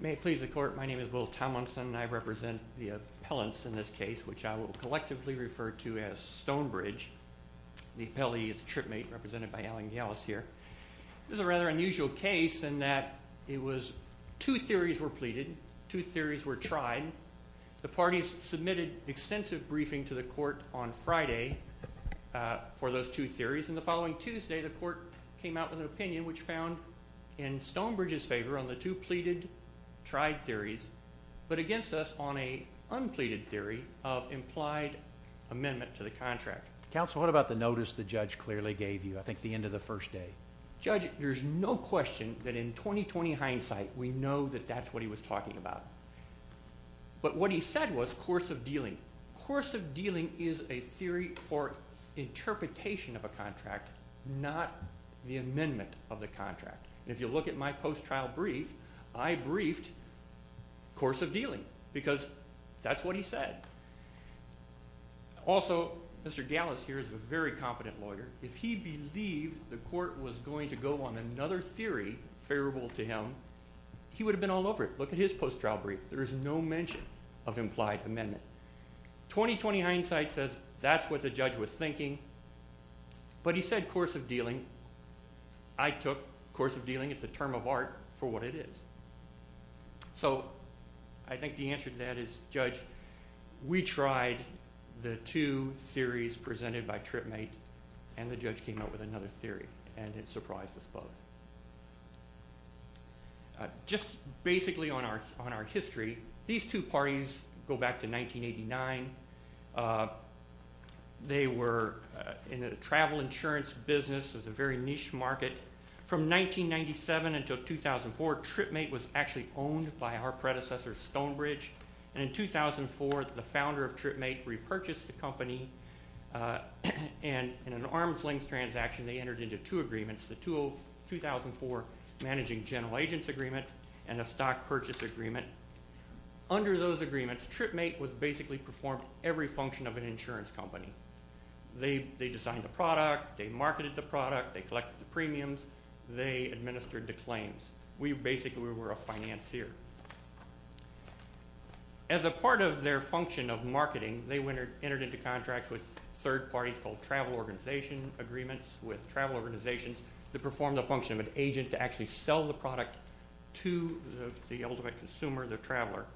May it please the Court, my name is Will Tomlinson, and I represent the appellants in this case, which I will collectively refer to as Stonebridge. The appellee is Trip Mate, represented by Alan Gallis here. This is a rather unusual case in that it was two theories were pleaded, two theories were tried. The parties submitted extensive briefing to the Court on Friday for those two theories, and the following Tuesday, the Court came out with an opinion which found in Stonebridge's favor on the two pleaded, tried theories, but against us on a unpleaded theory of implied amendment to the contract. Counsel, what about the notice the judge clearly gave you, I think the end of the first day? Judge, there's no question that in 20-20 hindsight, we know that that's what he was talking about. But what he said was course of dealing. Course of dealing is a theory for interpretation of a contract, not the amendment of the contract. If you look at my post-trial brief, I briefed course of dealing, because that's what he said. Also, Mr. Gallis here is a very competent lawyer. If he believed the Court was going to go on another theory favorable to him, he would have been all over it. But if you look at his post-trial brief, there is no mention of implied amendment. 20-20 hindsight says that's what the judge was thinking, but he said course of dealing. I took course of dealing. It's a term of art for what it is. So I think the answer to that is, Judge, we tried the two theories presented by Tripmate, and the judge came out with another theory, and it surprised us both. Just basically on our history, these two parties go back to 1989. They were in the travel insurance business. It was a very niche market. From 1997 until 2004, Tripmate was actually owned by our predecessor, Stonebridge. And in 2004, the founder of Tripmate repurchased the company, and in an arm's length transaction, they entered into two agreements, the 2004 managing general agent's agreement and a stock purchase agreement. Under those agreements, Tripmate basically performed every function of an insurance company. They designed the product. They marketed the product. They collected the premiums. They administered the claims. We basically were a financier. As a part of their function of marketing, they entered into contracts with third parties called travel organization agreements with travel organizations to perform the function of an agent to actually sell the product to the ultimate consumer, the traveler.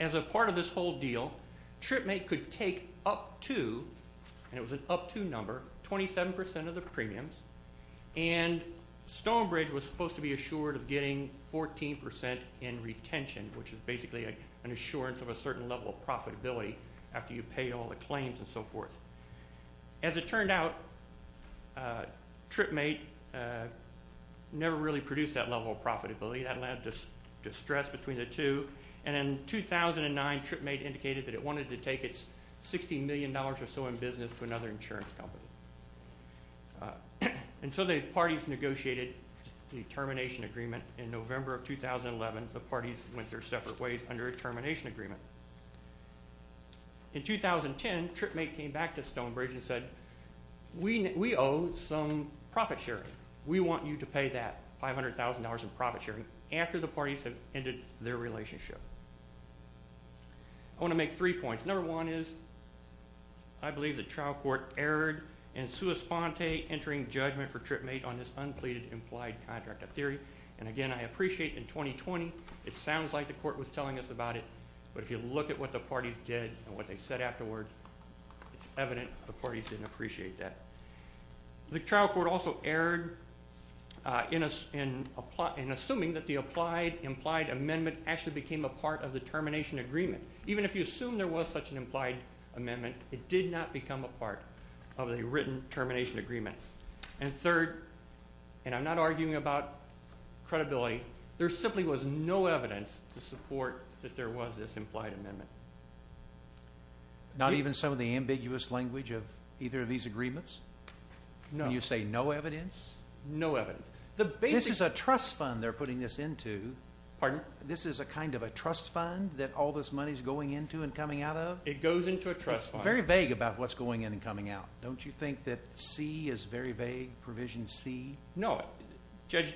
As a part of this whole deal, Tripmate could take up to, and it was an up to number, 27% of the premiums, and Stonebridge was supposed to be assured of getting 14% in retention, which is basically an assurance of a certain level of profitability after you pay all the claims and so forth. As it turned out, Tripmate never really produced that level of profitability. That led to distress between the two, and in 2009, Tripmate indicated that it wanted to take its $60 million or so in business to another insurance company, and so the parties negotiated the termination agreement. In November of 2011, the parties went their separate ways under a termination agreement. In 2010, Tripmate came back to Stonebridge and said, we owe some profit sharing. We want you to pay that $500,000 in profit sharing after the parties have ended their relationship. I want to make three points. Number one is, I believe the trial court erred in sua sponte entering judgment for Tripmate on this unpleaded implied contract of theory, and again, I appreciate in 2020, it sounds like the court was telling us about it, but if you look at what the parties did and what they said afterwards, it's evident the parties didn't appreciate that. The trial court also erred in assuming that the implied amendment actually became a part of the termination agreement. Even if you assume there was such an implied amendment, it did not become a part of the written termination agreement. And third, and I'm not arguing about credibility, there simply was no evidence to support that there was this implied amendment. Not even some of the ambiguous language of either of these agreements? No. When you say no evidence? No evidence. This is a trust fund they're putting this into. Pardon? This is a kind of a trust fund that all this money is going into and coming out of? It goes into a trust fund. It's very vague about what's going in and coming out. Don't you think that C is very vague, provision C? No. Judge,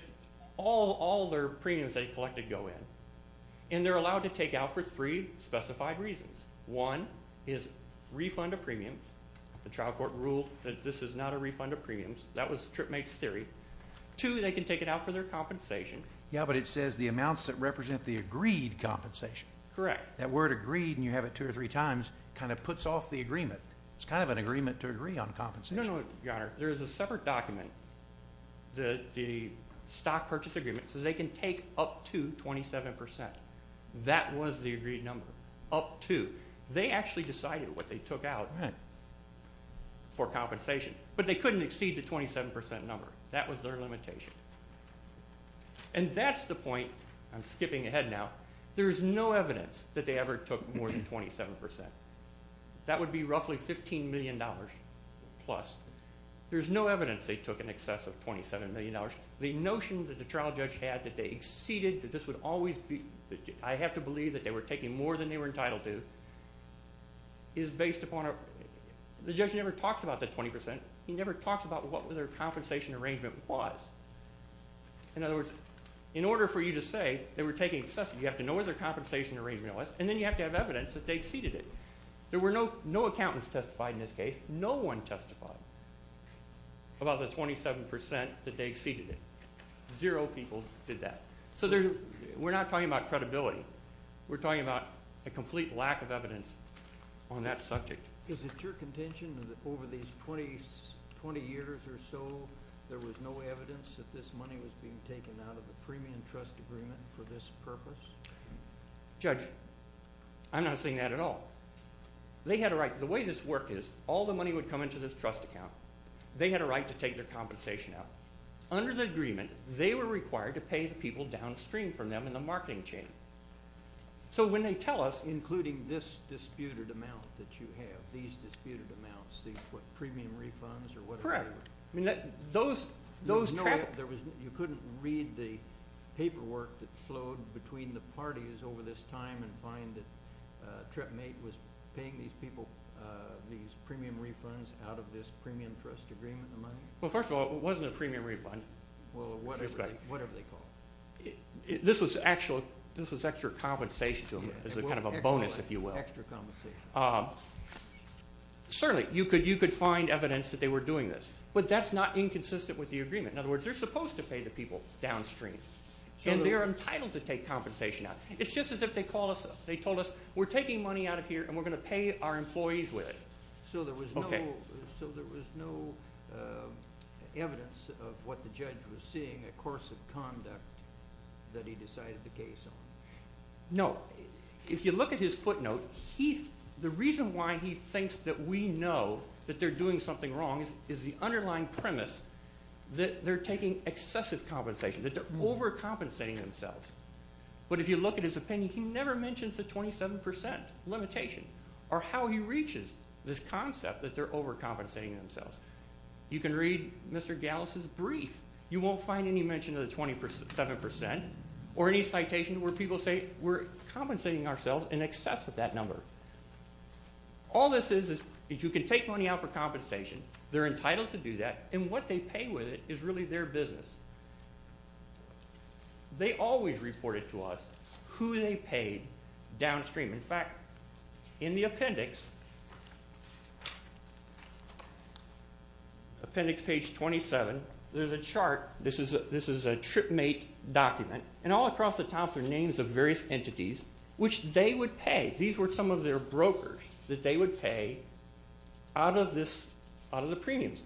all their premiums they collected go in, and they're allowed to take out for three specified reasons. One is refund of premiums. The trial court ruled that this is not a refund of premiums. That was the tripmate's theory. Two, they can take it out for their compensation. Yeah, but it says the amounts that represent the agreed compensation. Correct. That word agreed, and you have it two or three times, kind of puts off the agreement. No, no, Your Honor. There is a separate document that the stock purchase agreement says they can take up to 27%. That was the agreed number, up to. They actually decided what they took out for compensation, but they couldn't exceed the 27% number. That was their limitation. And that's the point I'm skipping ahead now. There's no evidence that they ever took more than 27%. That would be roughly $15 million plus. There's no evidence they took in excess of $27 million. The notion that the trial judge had that they exceeded, that this would always be, I have to believe that they were taking more than they were entitled to, is based upon a, the judge never talks about that 20%. He never talks about what their compensation arrangement was. In other words, in order for you to say they were taking excess, you have to know what their compensation arrangement was, and then you have to have evidence that they exceeded it. There were no accountants testified in this case. No one testified about the 27% that they exceeded it. Zero people did that. So we're not talking about credibility. We're talking about a complete lack of evidence on that subject. Is it your contention that over these 20 years or so, there was no evidence that this money was being taken out of the premium trust agreement for this purpose? Judge, I'm not saying that at all. They had a right. The way this worked is all the money would come into this trust account. They had a right to take their compensation out. Under the agreement, they were required to pay the people downstream from them in the marketing chain. So when they tell us – Including this disputed amount that you have, these disputed amounts, these what, premium refunds or whatever? Correct. I mean, those – You couldn't read the paperwork that flowed between the parties over this time and find that TripMate was paying these people these premium refunds out of this premium trust agreement money? Well, first of all, it wasn't a premium refund. Well, whatever they call it. This was extra compensation to them as a kind of a bonus, if you will. Extra compensation. Certainly, you could find evidence that they were doing this. But that's not inconsistent with the agreement. In other words, they're supposed to pay the people downstream, and they're entitled to take compensation out. It's just as if they told us, we're taking money out of here, and we're going to pay our employees with it. So there was no evidence of what the judge was seeing, a course of conduct that he decided the case on? No. If you look at his footnote, the reason why he thinks that we know that they're doing something wrong is the underlying premise that they're taking excessive compensation, that they're overcompensating themselves. But if you look at his opinion, he never mentions the 27% limitation or how he reaches this concept that they're overcompensating themselves. You can read Mr. Gallus' brief. You won't find any mention of the 27% or any citation where people say we're compensating ourselves in excess of that number. All this is is you can take money out for compensation. They're entitled to do that, and what they pay with it is really their business. They always reported to us who they paid downstream. In fact, in the appendix, appendix page 27, there's a chart. This is a tripmate document, and all across the top are names of various entities which they would pay. These were some of their brokers that they would pay out of the premiums.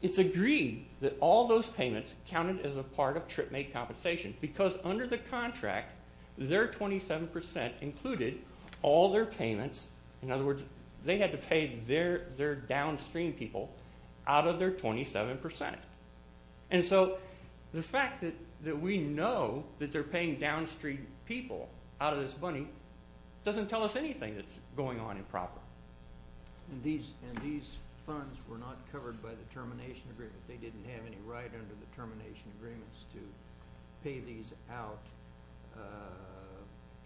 It's agreed that all those payments counted as a part of tripmate compensation because under the contract, their 27% included all their payments. In other words, they had to pay their downstream people out of their 27%. And so the fact that we know that they're paying downstream people out of this money doesn't tell us anything that's going on improperly. And these funds were not covered by the termination agreement. They didn't have any right under the termination agreements to pay these out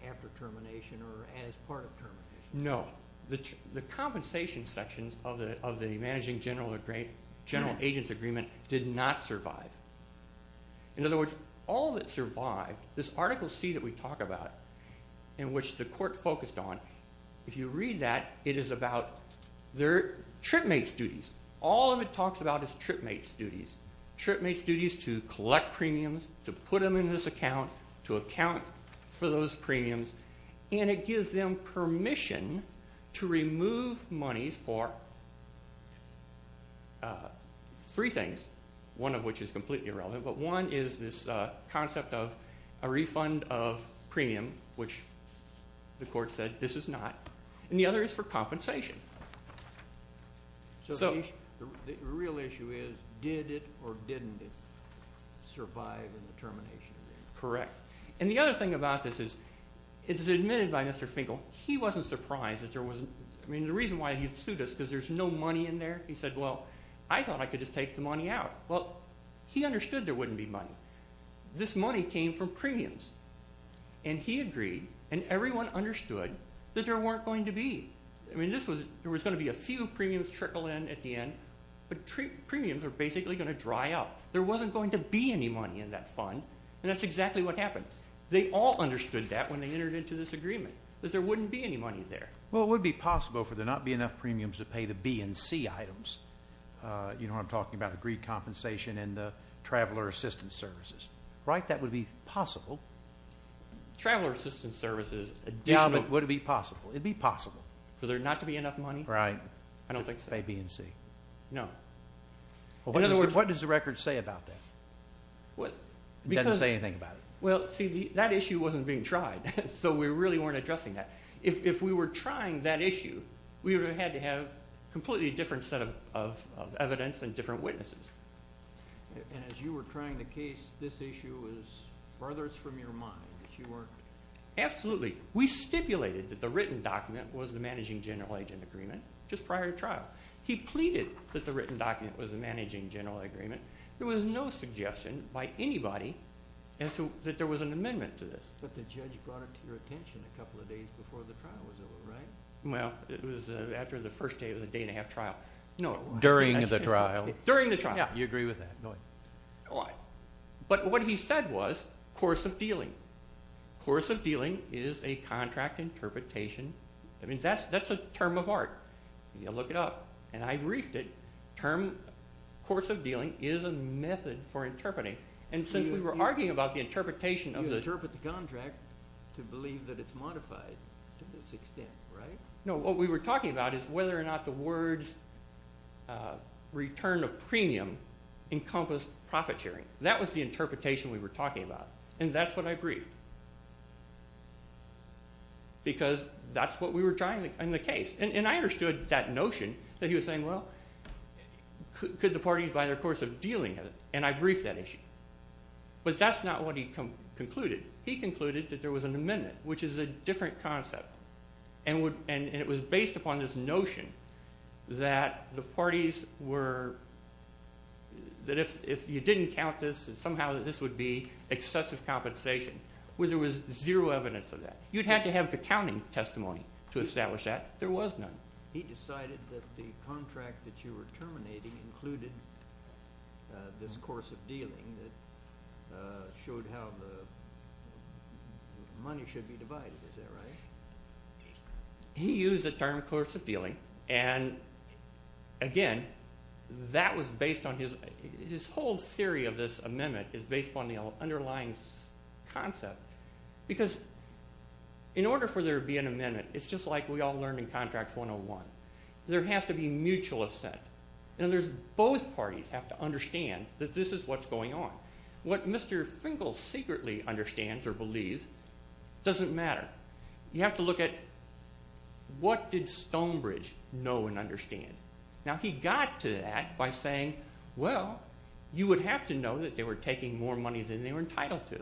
after termination or as part of termination. No, the compensation sections of the managing general agent's agreement did not survive. In other words, all that survived, this Article C that we talk about in which the court focused on, if you read that, it is about their tripmate's duties. All of it talks about is tripmate's duties, tripmate's duties to collect premiums, to put them in this account, to account for those premiums, and it gives them permission to remove monies for three things, one of which is completely irrelevant, but one is this concept of a refund of premium, which the court said this is not, and the other is for compensation. So the real issue is did it or didn't it survive in the termination agreement? Correct. And the other thing about this is it is admitted by Mr. Finkel, he wasn't surprised. I mean, the reason why he sued us is because there's no money in there. He said, well, I thought I could just take the money out. Well, he understood there wouldn't be money. This money came from premiums, and he agreed, and everyone understood that there weren't going to be. I mean, there was going to be a few premiums trickle in at the end, but premiums are basically going to dry up. There wasn't going to be any money in that fund, and that's exactly what happened. They all understood that when they entered into this agreement, that there wouldn't be any money there. Well, it would be possible for there not to be enough premiums to pay the B and C items. You know what I'm talking about, agreed compensation and the traveler assistance services. Right? That would be possible. Traveler assistance services, additional. Yeah, but would it be possible? It would be possible. For there not to be enough money? Right. I don't think so. To pay B and C. No. In other words, what does the record say about that? It doesn't say anything about it. Well, see, that issue wasn't being tried, so we really weren't addressing that. If we were trying that issue, we would have had to have a completely different set of evidence and different witnesses. And as you were trying the case, this issue was farther from your mind. Absolutely. We stipulated that the written document was the managing general agent agreement just prior to trial. He pleaded that the written document was the managing general agreement. There was no suggestion by anybody that there was an amendment to this. But the judge brought it to your attention a couple of days before the trial was over, right? Well, it was after the first day of the day-and-a-half trial. During the trial. During the trial. Yeah, you agree with that. But what he said was course of dealing. Course of dealing is a contract interpretation. That's a term of art. You look it up. And I briefed it. Term course of dealing is a method for interpreting. And since we were arguing about the interpretation of the- You interpret the contract to believe that it's modified to this extent, right? No, what we were talking about is whether or not the words return of premium encompassed profit sharing. That was the interpretation we were talking about. And that's what I briefed. Because that's what we were trying in the case. And I understood that notion that he was saying, well, could the parties by their course of dealing have it? And I briefed that issue. But that's not what he concluded. He concluded that there was an amendment, which is a different concept. And it was based upon this notion that the parties were-that if you didn't count this, that somehow this would be excessive compensation, where there was zero evidence of that. You'd have to have the counting testimony to establish that. But there was none. He decided that the contract that you were terminating included this course of dealing that showed how the money should be divided. Is that right? He used the term course of dealing. And, again, that was based on his-his whole theory of this amendment is based upon the underlying concept. Because in order for there to be an amendment, it's just like we all learned in Contracts 101. There has to be mutual assent. And there's-both parties have to understand that this is what's going on. What Mr. Finkel secretly understands or believes doesn't matter. You have to look at what did Stonebridge know and understand? Now, he got to that by saying, well, you would have to know that they were taking more money than they were entitled to.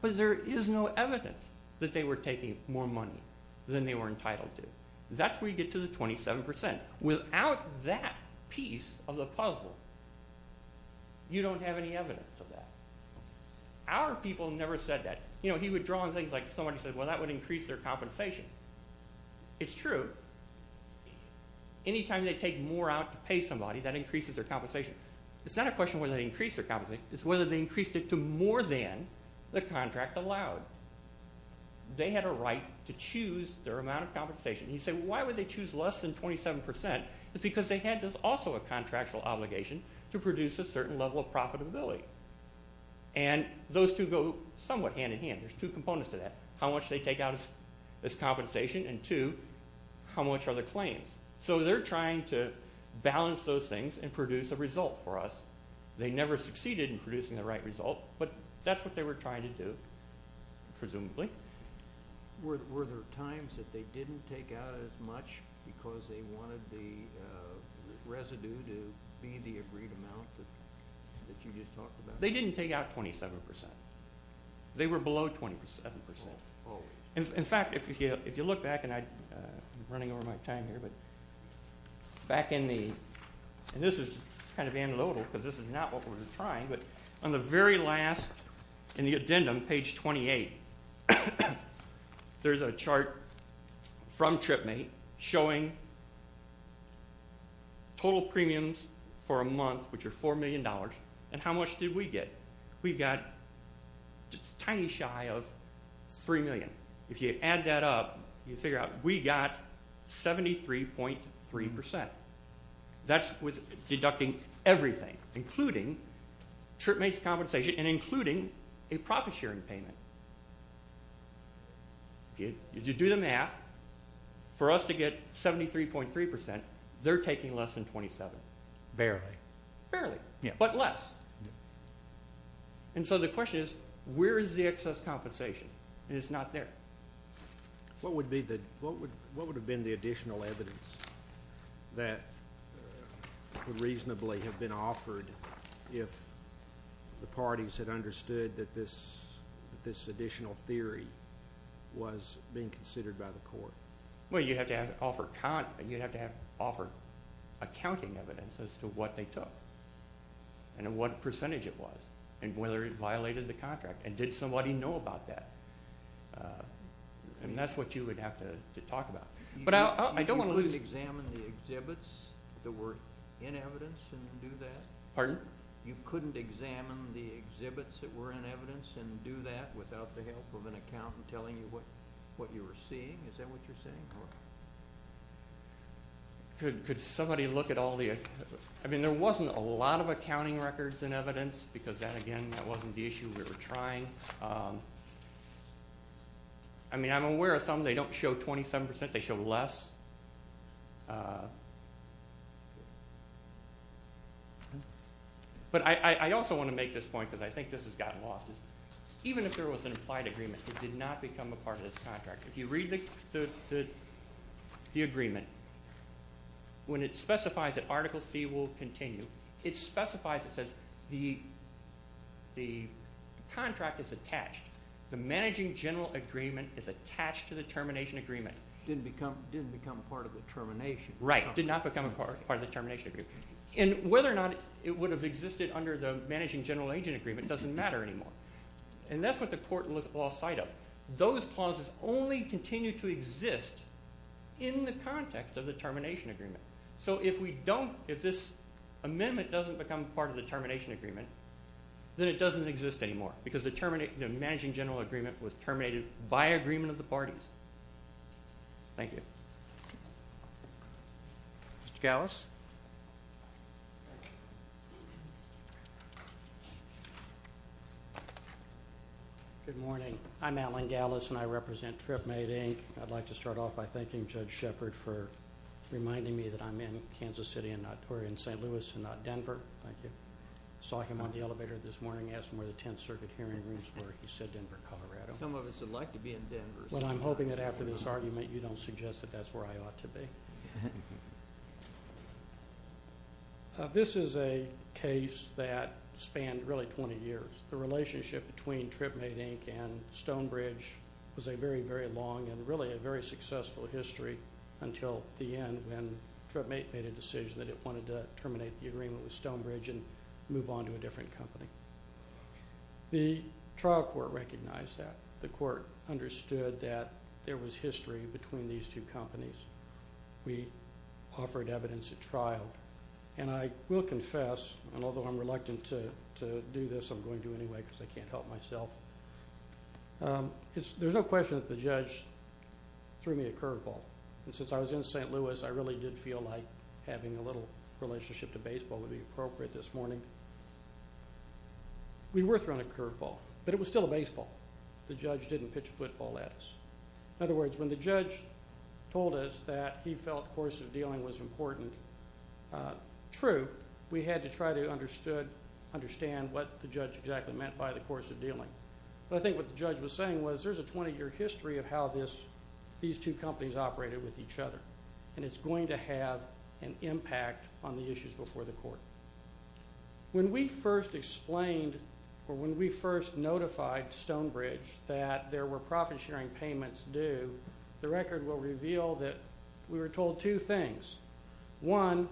But there is no evidence that they were taking more money than they were entitled to. That's where you get to the 27%. Without that piece of the puzzle, you don't have any evidence of that. Our people never said that. You know, he would draw on things like somebody said, well, that would increase their compensation. It's true. It's not a question of whether they increased their compensation. It's whether they increased it to more than the contract allowed. They had a right to choose their amount of compensation. He said, well, why would they choose less than 27%? It's because they had also a contractual obligation to produce a certain level of profitability. And those two go somewhat hand-in-hand. There's two components to that. How much they take out as compensation and, two, how much are the claims? So they're trying to balance those things and produce a result for us. They never succeeded in producing the right result, but that's what they were trying to do, presumably. Were there times that they didn't take out as much because they wanted the residue to be the agreed amount that you just talked about? They didn't take out 27%. They were below 27%. In fact, if you look back, and I'm running over my time here, but back in the – and this is kind of anecdotal because this is not what we were trying, but on the very last in the addendum, page 28, there's a chart from TripMate showing total premiums for a month, which are $4 million, and how much did we get? We got a tiny shy of $3 million. If you add that up, you figure out we got 73.3%. That's with deducting everything, including TripMate's compensation and including a profit-sharing payment. If you do the math, for us to get 73.3%, they're taking less than 27. Barely. Barely, but less. And so the question is, where is the excess compensation? And it's not there. What would be the – what would have been the additional evidence that would reasonably have been offered if the parties had understood that this additional theory was being considered by the court? Well, you'd have to offer accounting evidence as to what they took and what percentage it was and whether it violated the contract. And did somebody know about that? And that's what you would have to talk about. But I don't want to lose – You couldn't examine the exhibits that were in evidence and do that? Pardon? You couldn't examine the exhibits that were in evidence and do that without the help of an accountant telling you what you were seeing? Is that what you're saying? Could somebody look at all the – I mean, there wasn't a lot of accounting records in evidence because, again, that wasn't the issue we were trying. I mean, I'm aware of some. They don't show 27%. They show less. But I also want to make this point because I think this has gotten lost. Even if there was an implied agreement, it did not become a part of this contract. If you read the agreement, when it specifies that Article C will continue, it specifies it says the contract is attached. The managing general agreement is attached to the termination agreement. Didn't become a part of the termination. Right, did not become a part of the termination agreement. And whether or not it would have existed under the managing general agent agreement doesn't matter anymore. And that's what the court lost sight of. Those clauses only continue to exist in the context of the termination agreement. So if we don't – if this amendment doesn't become part of the termination agreement, then it doesn't exist anymore because the terminating – the managing general agreement was terminated by agreement of the parties. Thank you. Mr. Gallas. Good morning. I'm Alan Gallas, and I represent TripMate, Inc. I'd like to start off by thanking Judge Shepard for reminding me that I'm in Kansas City and not – or in St. Louis and not Denver. Thank you. Saw him on the elevator this morning, asked him where the 10th Circuit hearing rooms were. He said Denver, Colorado. Some of us would like to be in Denver. Well, I'm hoping that after this argument you don't suggest that that's where I ought to be. This is a case that spanned really 20 years. The relationship between TripMate, Inc. and Stonebridge was a very, very long and really a very successful history until the end when TripMate made a decision that it wanted to terminate the agreement with Stonebridge and move on to a different company. The trial court recognized that. The court understood that there was history between these two companies. We offered evidence at trial. And I will confess, and although I'm reluctant to do this, I'm going to anyway because I can't help myself, there's no question that the judge threw me a curveball. And since I was in St. Louis, I really did feel like having a little relationship to baseball would be appropriate this morning. And we were thrown a curveball, but it was still a baseball. The judge didn't pitch a football at us. In other words, when the judge told us that he felt the course of dealing was important, true. We had to try to understand what the judge exactly meant by the course of dealing. But I think what the judge was saying was there's a 20-year history of how these two companies operated with each other, and it's going to have an impact on the issues before the court. When we first explained or when we first notified Stonebridge that there were profit sharing payments due, the record will reveal that we were told two things. One,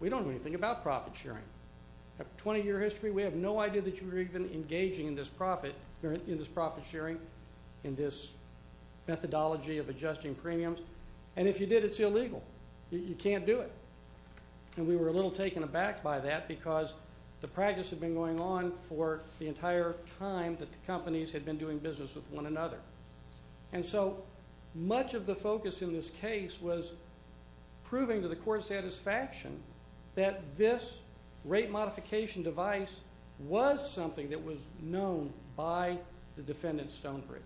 we don't know anything about profit sharing. We have a 20-year history. We have no idea that you were even engaging in this profit sharing, in this methodology of adjusting premiums. And if you did, it's illegal. You can't do it. And we were a little taken aback by that because the practice had been going on for the entire time that the companies had been doing business with one another. And so much of the focus in this case was proving to the court's satisfaction that this rate modification device was something that was known by the defendant, Stonebridge.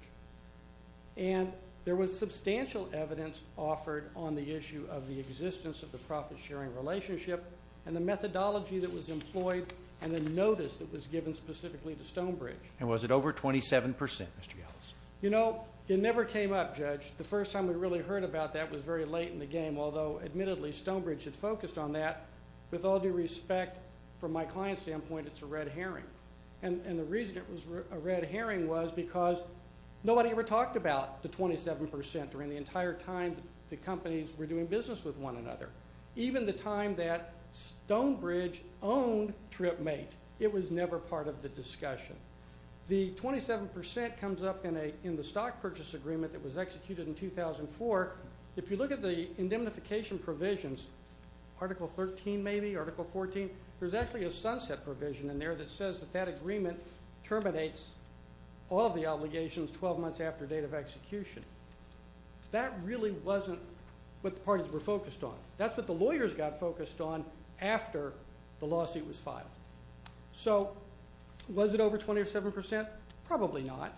And there was substantial evidence offered on the issue of the existence of the profit sharing relationship and the methodology that was employed and the notice that was given specifically to Stonebridge. And was it over 27 percent, Mr. Gelles? You know, it never came up, Judge. The first time we really heard about that was very late in the game, although, admittedly, Stonebridge had focused on that. With all due respect, from my client's standpoint, it's a red herring. And the reason it was a red herring was because nobody ever talked about the 27 percent during the entire time that the companies were doing business with one another. Even the time that Stonebridge owned TripMate, it was never part of the discussion. The 27 percent comes up in the stock purchase agreement that was executed in 2004. If you look at the indemnification provisions, Article 13 maybe, Article 14, there's actually a sunset provision in there that says that that agreement terminates all of the obligations 12 months after date of execution. That really wasn't what the parties were focused on. That's what the lawyers got focused on after the lawsuit was filed. So was it over 27 percent? Probably not.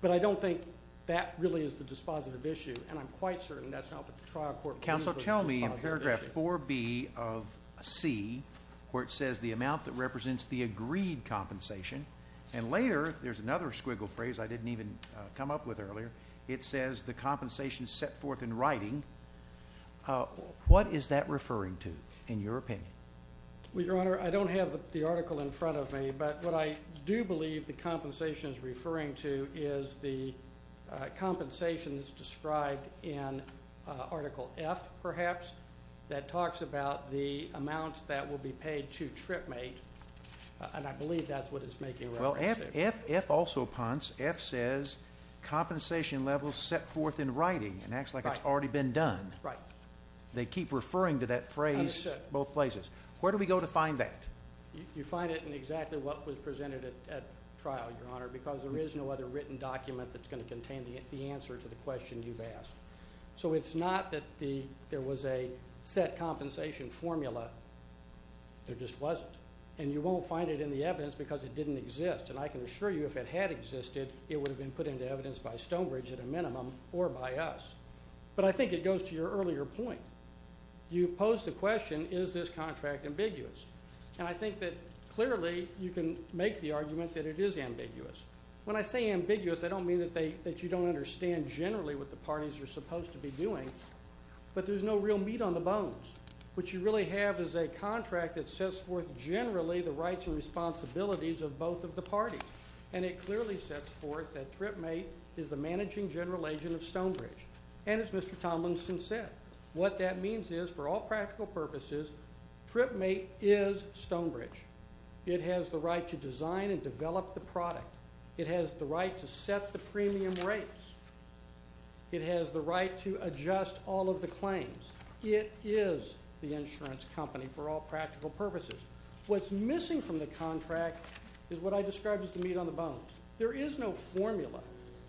But I don't think that really is the dispositive issue, and I'm quite certain that's not what the trial court believes is the dispositive issue. So tell me in paragraph 4B of C, where it says the amount that represents the agreed compensation, and later there's another squiggle phrase I didn't even come up with earlier. It says the compensation is set forth in writing. What is that referring to, in your opinion? Well, Your Honor, I don't have the article in front of me, but what I do believe the compensation is referring to is the compensation that's described in Article F, perhaps, that talks about the amounts that will be paid to trip mate, and I believe that's what it's making reference to. Well, F also punts, F says compensation levels set forth in writing and acts like it's already been done. Right. They keep referring to that phrase both places. Understood. Where do we go to find that? You find it in exactly what was presented at trial, Your Honor, because there is no other written document that's going to contain the answer to the question you've asked. So it's not that there was a set compensation formula. There just wasn't, and you won't find it in the evidence because it didn't exist, and I can assure you if it had existed, it would have been put into evidence by Stonebridge at a minimum or by us. But I think it goes to your earlier point. You pose the question, is this contract ambiguous? And I think that clearly you can make the argument that it is ambiguous. When I say ambiguous, I don't mean that you don't understand generally what the parties are supposed to be doing, but there's no real meat on the bones. What you really have is a contract that sets forth generally the rights and responsibilities of both of the parties, and it clearly sets forth that trip mate is the managing general agent of Stonebridge, and as Mr. Tomlinson said, what that means is for all practical purposes, trip mate is Stonebridge. It has the right to design and develop the product. It has the right to set the premium rates. It has the right to adjust all of the claims. It is the insurance company for all practical purposes. What's missing from the contract is what I described as the meat on the bones. There is no formula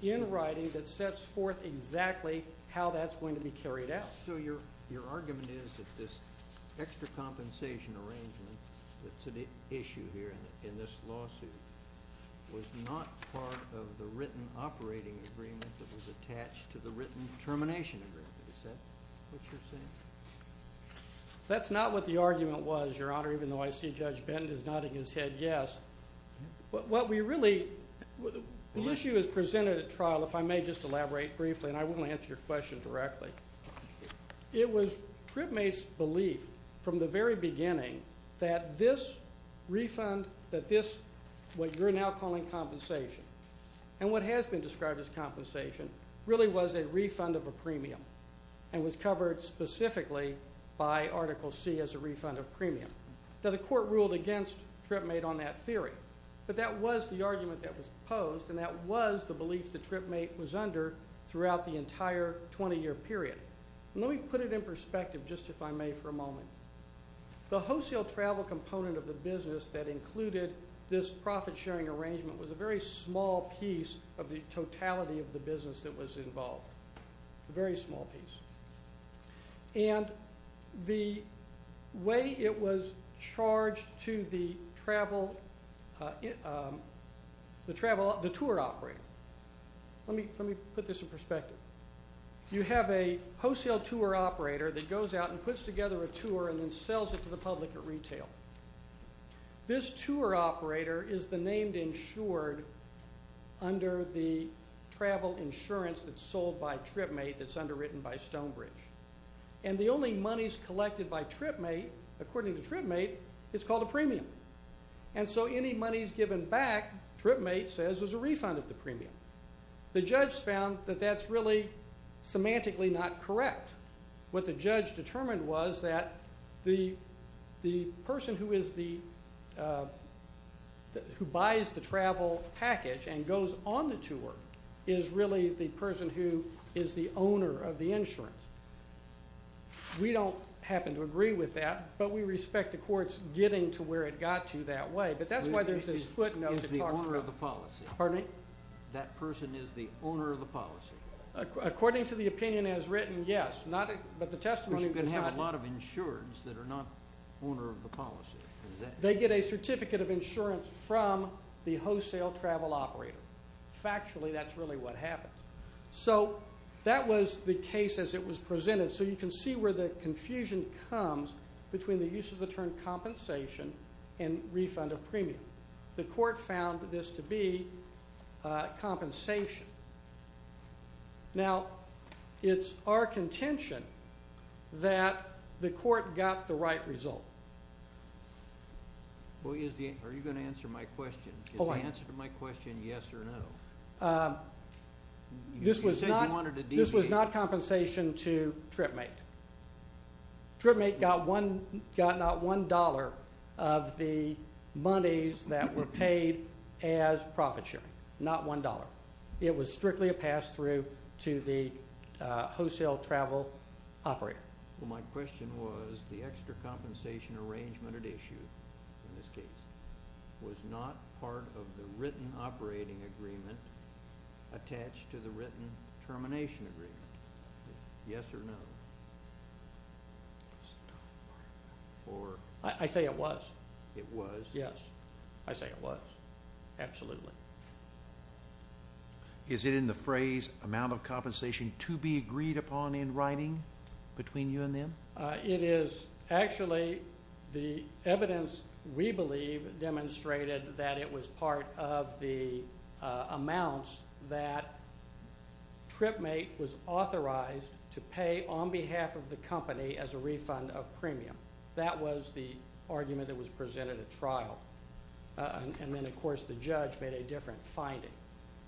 in writing that sets forth exactly how that's going to be carried out. So your argument is that this extra compensation arrangement that's an issue here in this lawsuit was not part of the written operating agreement that was attached to the written termination agreement. Is that what you're saying? That's not what the argument was, Your Honor, even though I see Judge Benton is nodding his head yes. What we really, the issue is presented at trial, if I may just elaborate briefly, and I won't answer your question directly. It was trip mate's belief from the very beginning that this refund, that this, what you're now calling compensation, and what has been described as compensation really was a refund of a premium and was covered specifically by Article C as a refund of premium. Now, the court ruled against trip mate on that theory, but that was the argument that was posed, and that was the belief that trip mate was under throughout the entire 20-year period. Let me put it in perspective, just if I may, for a moment. The wholesale travel component of the business that included this profit-sharing arrangement was a very small piece of the totality of the business that was involved, a very small piece. And the way it was charged to the travel, the tour operator, let me put this in perspective. You have a wholesale tour operator that goes out and puts together a tour and then sells it to the public at retail. This tour operator is the named insured under the travel insurance that's sold by trip mate that's underwritten by Stonebridge. And the only monies collected by trip mate, according to trip mate, it's called a premium. And so any monies given back, trip mate says, is a refund of the premium. The judge found that that's really semantically not correct. What the judge determined was that the person who is the, who buys the travel package and goes on the tour is really the person who is the owner of the insurance. We don't happen to agree with that, but we respect the court's getting to where it got to that way. But that's why there's this footnote that talks about the policy. Pardon me? That person is the owner of the policy. According to the opinion as written, yes. But the testimony was not. Because you can have a lot of insureds that are not owner of the policy. They get a certificate of insurance from the wholesale travel operator. Factually, that's really what happens. So that was the case as it was presented. So you can see where the confusion comes between the use of the term compensation and refund of premium. The court found this to be compensation. Now, it's our contention that the court got the right result. Are you going to answer my question? Is the answer to my question yes or no? This was not compensation to Tripmate. Tripmate got not $1 of the monies that were paid as profit sharing, not $1. It was strictly a pass-through to the wholesale travel operator. Well, my question was the extra compensation arrangement at issue in this case was not part of the written operating agreement attached to the written termination agreement. Yes or no? I say it was. It was? Yes. I say it was. Absolutely. Is it in the phrase amount of compensation to be agreed upon in writing between you and them? It is. Actually, the evidence we believe demonstrated that it was part of the amounts that Tripmate was authorized to pay on behalf of the company as a refund of premium. That was the argument that was presented at trial. And then, of course, the judge made a different finding.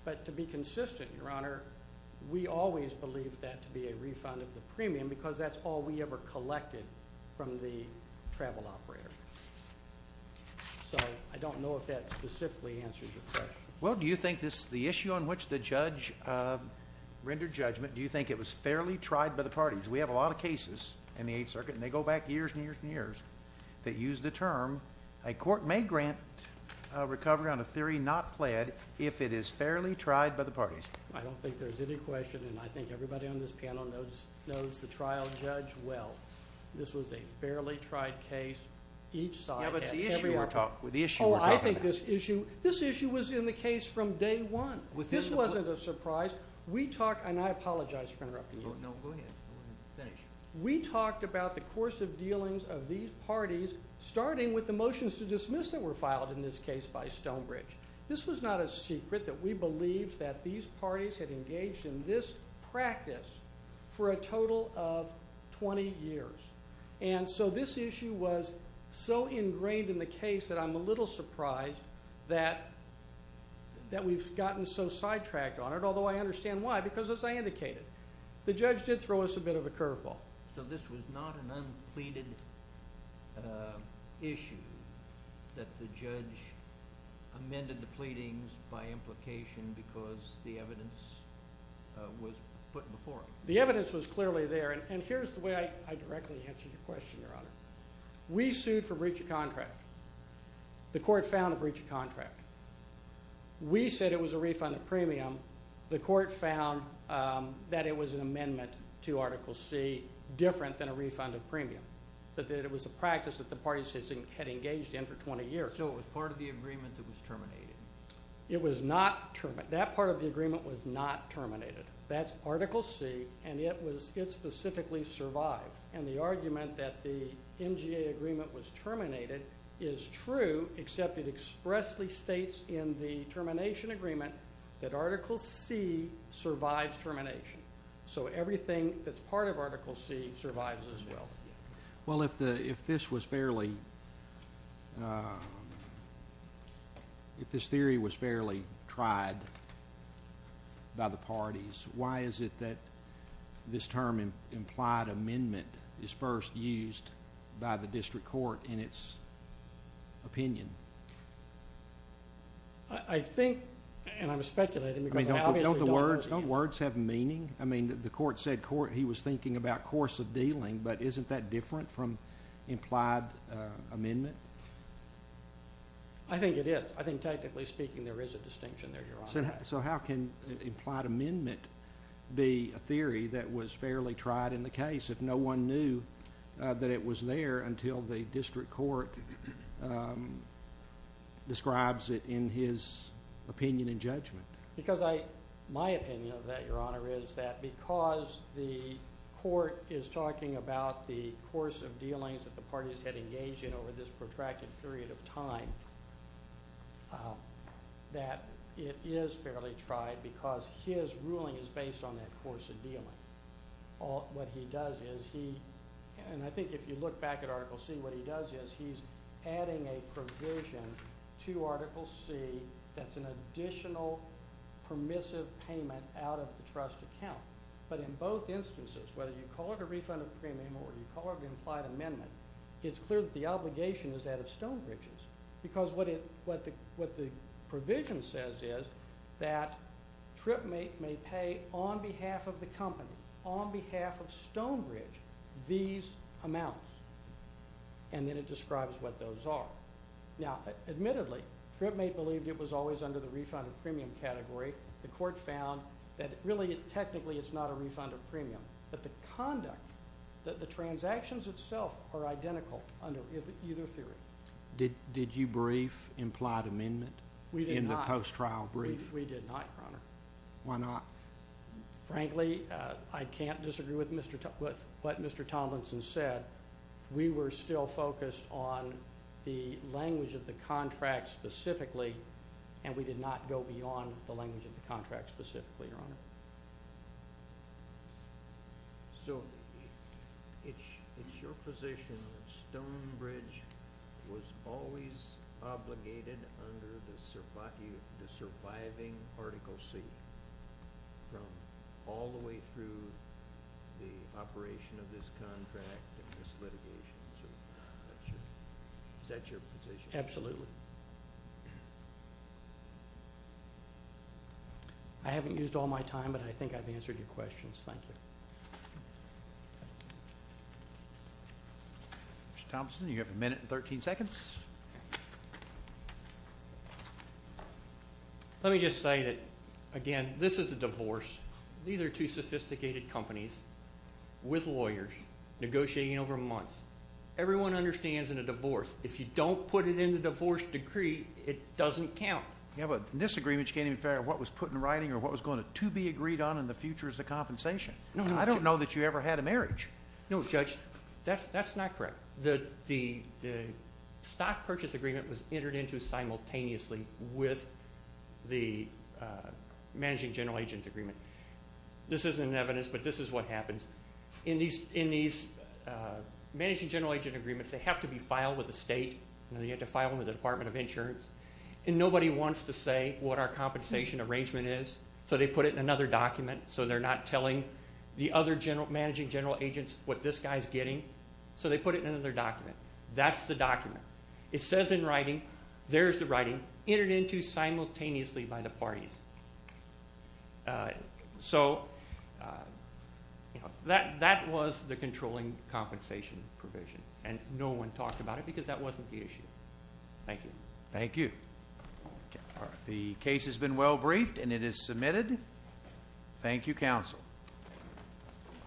But to be consistent, Your Honor, we always believe that to be a refund of the premium because that's all we ever collected from the travel operator. So I don't know if that specifically answers your question. Well, do you think the issue on which the judge rendered judgment, do you think it was fairly tried by the parties? We have a lot of cases in the Eighth Circuit, and they go back years and years and years, that use the term a court may grant a recovery on a theory not pled if it is fairly tried by the parties. I don't think there's any question, and I think everybody on this panel knows the trial judge well. This was a fairly tried case. Yeah, but it's the issue we're talking about. Oh, I think this issue was in the case from day one. This wasn't a surprise. We talked, and I apologize for interrupting you. No, go ahead. Go ahead and finish. We talked about the course of dealings of these parties, starting with the motions to dismiss that were filed in this case by Stonebridge. This was not a secret that we believed that these parties had engaged in this practice for a total of 20 years. And so this issue was so ingrained in the case that I'm a little surprised that we've gotten so sidetracked on it, although I understand why, because as I indicated, the judge did throw us a bit of a curveball. So this was not an unpleaded issue that the judge amended the pleadings by implication because the evidence was put before him. The evidence was clearly there, and here's the way I directly answered your question, Your Honor. We sued for breach of contract. The court found a breach of contract. We said it was a refund of premium. The court found that it was an amendment to Article C different than a refund of premium, that it was a practice that the parties had engaged in for 20 years. So it was part of the agreement that was terminated. It was not terminated. That part of the agreement was not terminated. That's Article C, and it specifically survived. And the argument that the MGA agreement was terminated is true, except it expressly states in the termination agreement that Article C survives termination. So everything that's part of Article C survives as well. Well, if this was fairly tried by the parties, why is it that this term, implied amendment, is first used by the district court in its opinion? I think, and I'm speculating, because it obviously doesn't work. Don't words have meaning? I mean the court said he was thinking about course of dealing, but isn't that different from implied amendment? I think it is. So how can implied amendment be a theory that was fairly tried in the case if no one knew that it was there until the district court describes it in his opinion and judgment? Because my opinion of that, Your Honor, is that because the court is talking about the course of dealings that the parties had engaged in over this protracted period of time, that it is fairly tried because his ruling is based on that course of dealing. What he does is he, and I think if you look back at Article C, what he does is he's adding a provision to Article C that's an additional permissive payment out of the trust account. But in both instances, whether you call it a refund of premium or you call it an implied amendment, it's clear that the obligation is that of Stonebridge's, because what the provision says is that Tripmate may pay on behalf of the company, on behalf of Stonebridge, these amounts, and then it describes what those are. Now admittedly, Tripmate believed it was always under the refund of premium category. The court found that really technically it's not a refund of premium, but the conduct, the transactions itself are identical under either theory. Did you brief implied amendment in the post-trial brief? We did not, Your Honor. Why not? Frankly, I can't disagree with what Mr. Tomlinson said. We were still focused on the language of the contract specifically, and we did not go beyond the language of the contract specifically, Your Honor. So it's your position that Stonebridge was always obligated under the surviving Article C from all the way through the operation of this contract and this litigation. Is that your position? Absolutely. I haven't used all my time, but I think I've answered your questions. Mr. Tomlinson, you have a minute and 13 seconds. Let me just say that, again, this is a divorce. These are two sophisticated companies with lawyers negotiating over months. Everyone understands in a divorce, if you don't put it in the divorce decree, it doesn't count. Yeah, but in this agreement, you can't even figure out what was put in writing or what was going to be agreed on in the future as the compensation. I don't know that you ever had a marriage. No, Judge, that's not correct. The stock purchase agreement was entered into simultaneously with the managing general agent's agreement. This isn't in evidence, but this is what happens. In these managing general agent agreements, they have to be filed with the state. You have to file them with the Department of Insurance. Nobody wants to say what our compensation arrangement is, so they put it in another document so they're not telling the other managing general agents what this guy's getting, so they put it in another document. That's the document. It says in writing, there's the writing, entered into simultaneously by the parties. So that was the controlling compensation provision, and no one talked about it because that wasn't the issue. Thank you. Thank you. The case has been well briefed, and it is submitted. Thank you, counsel.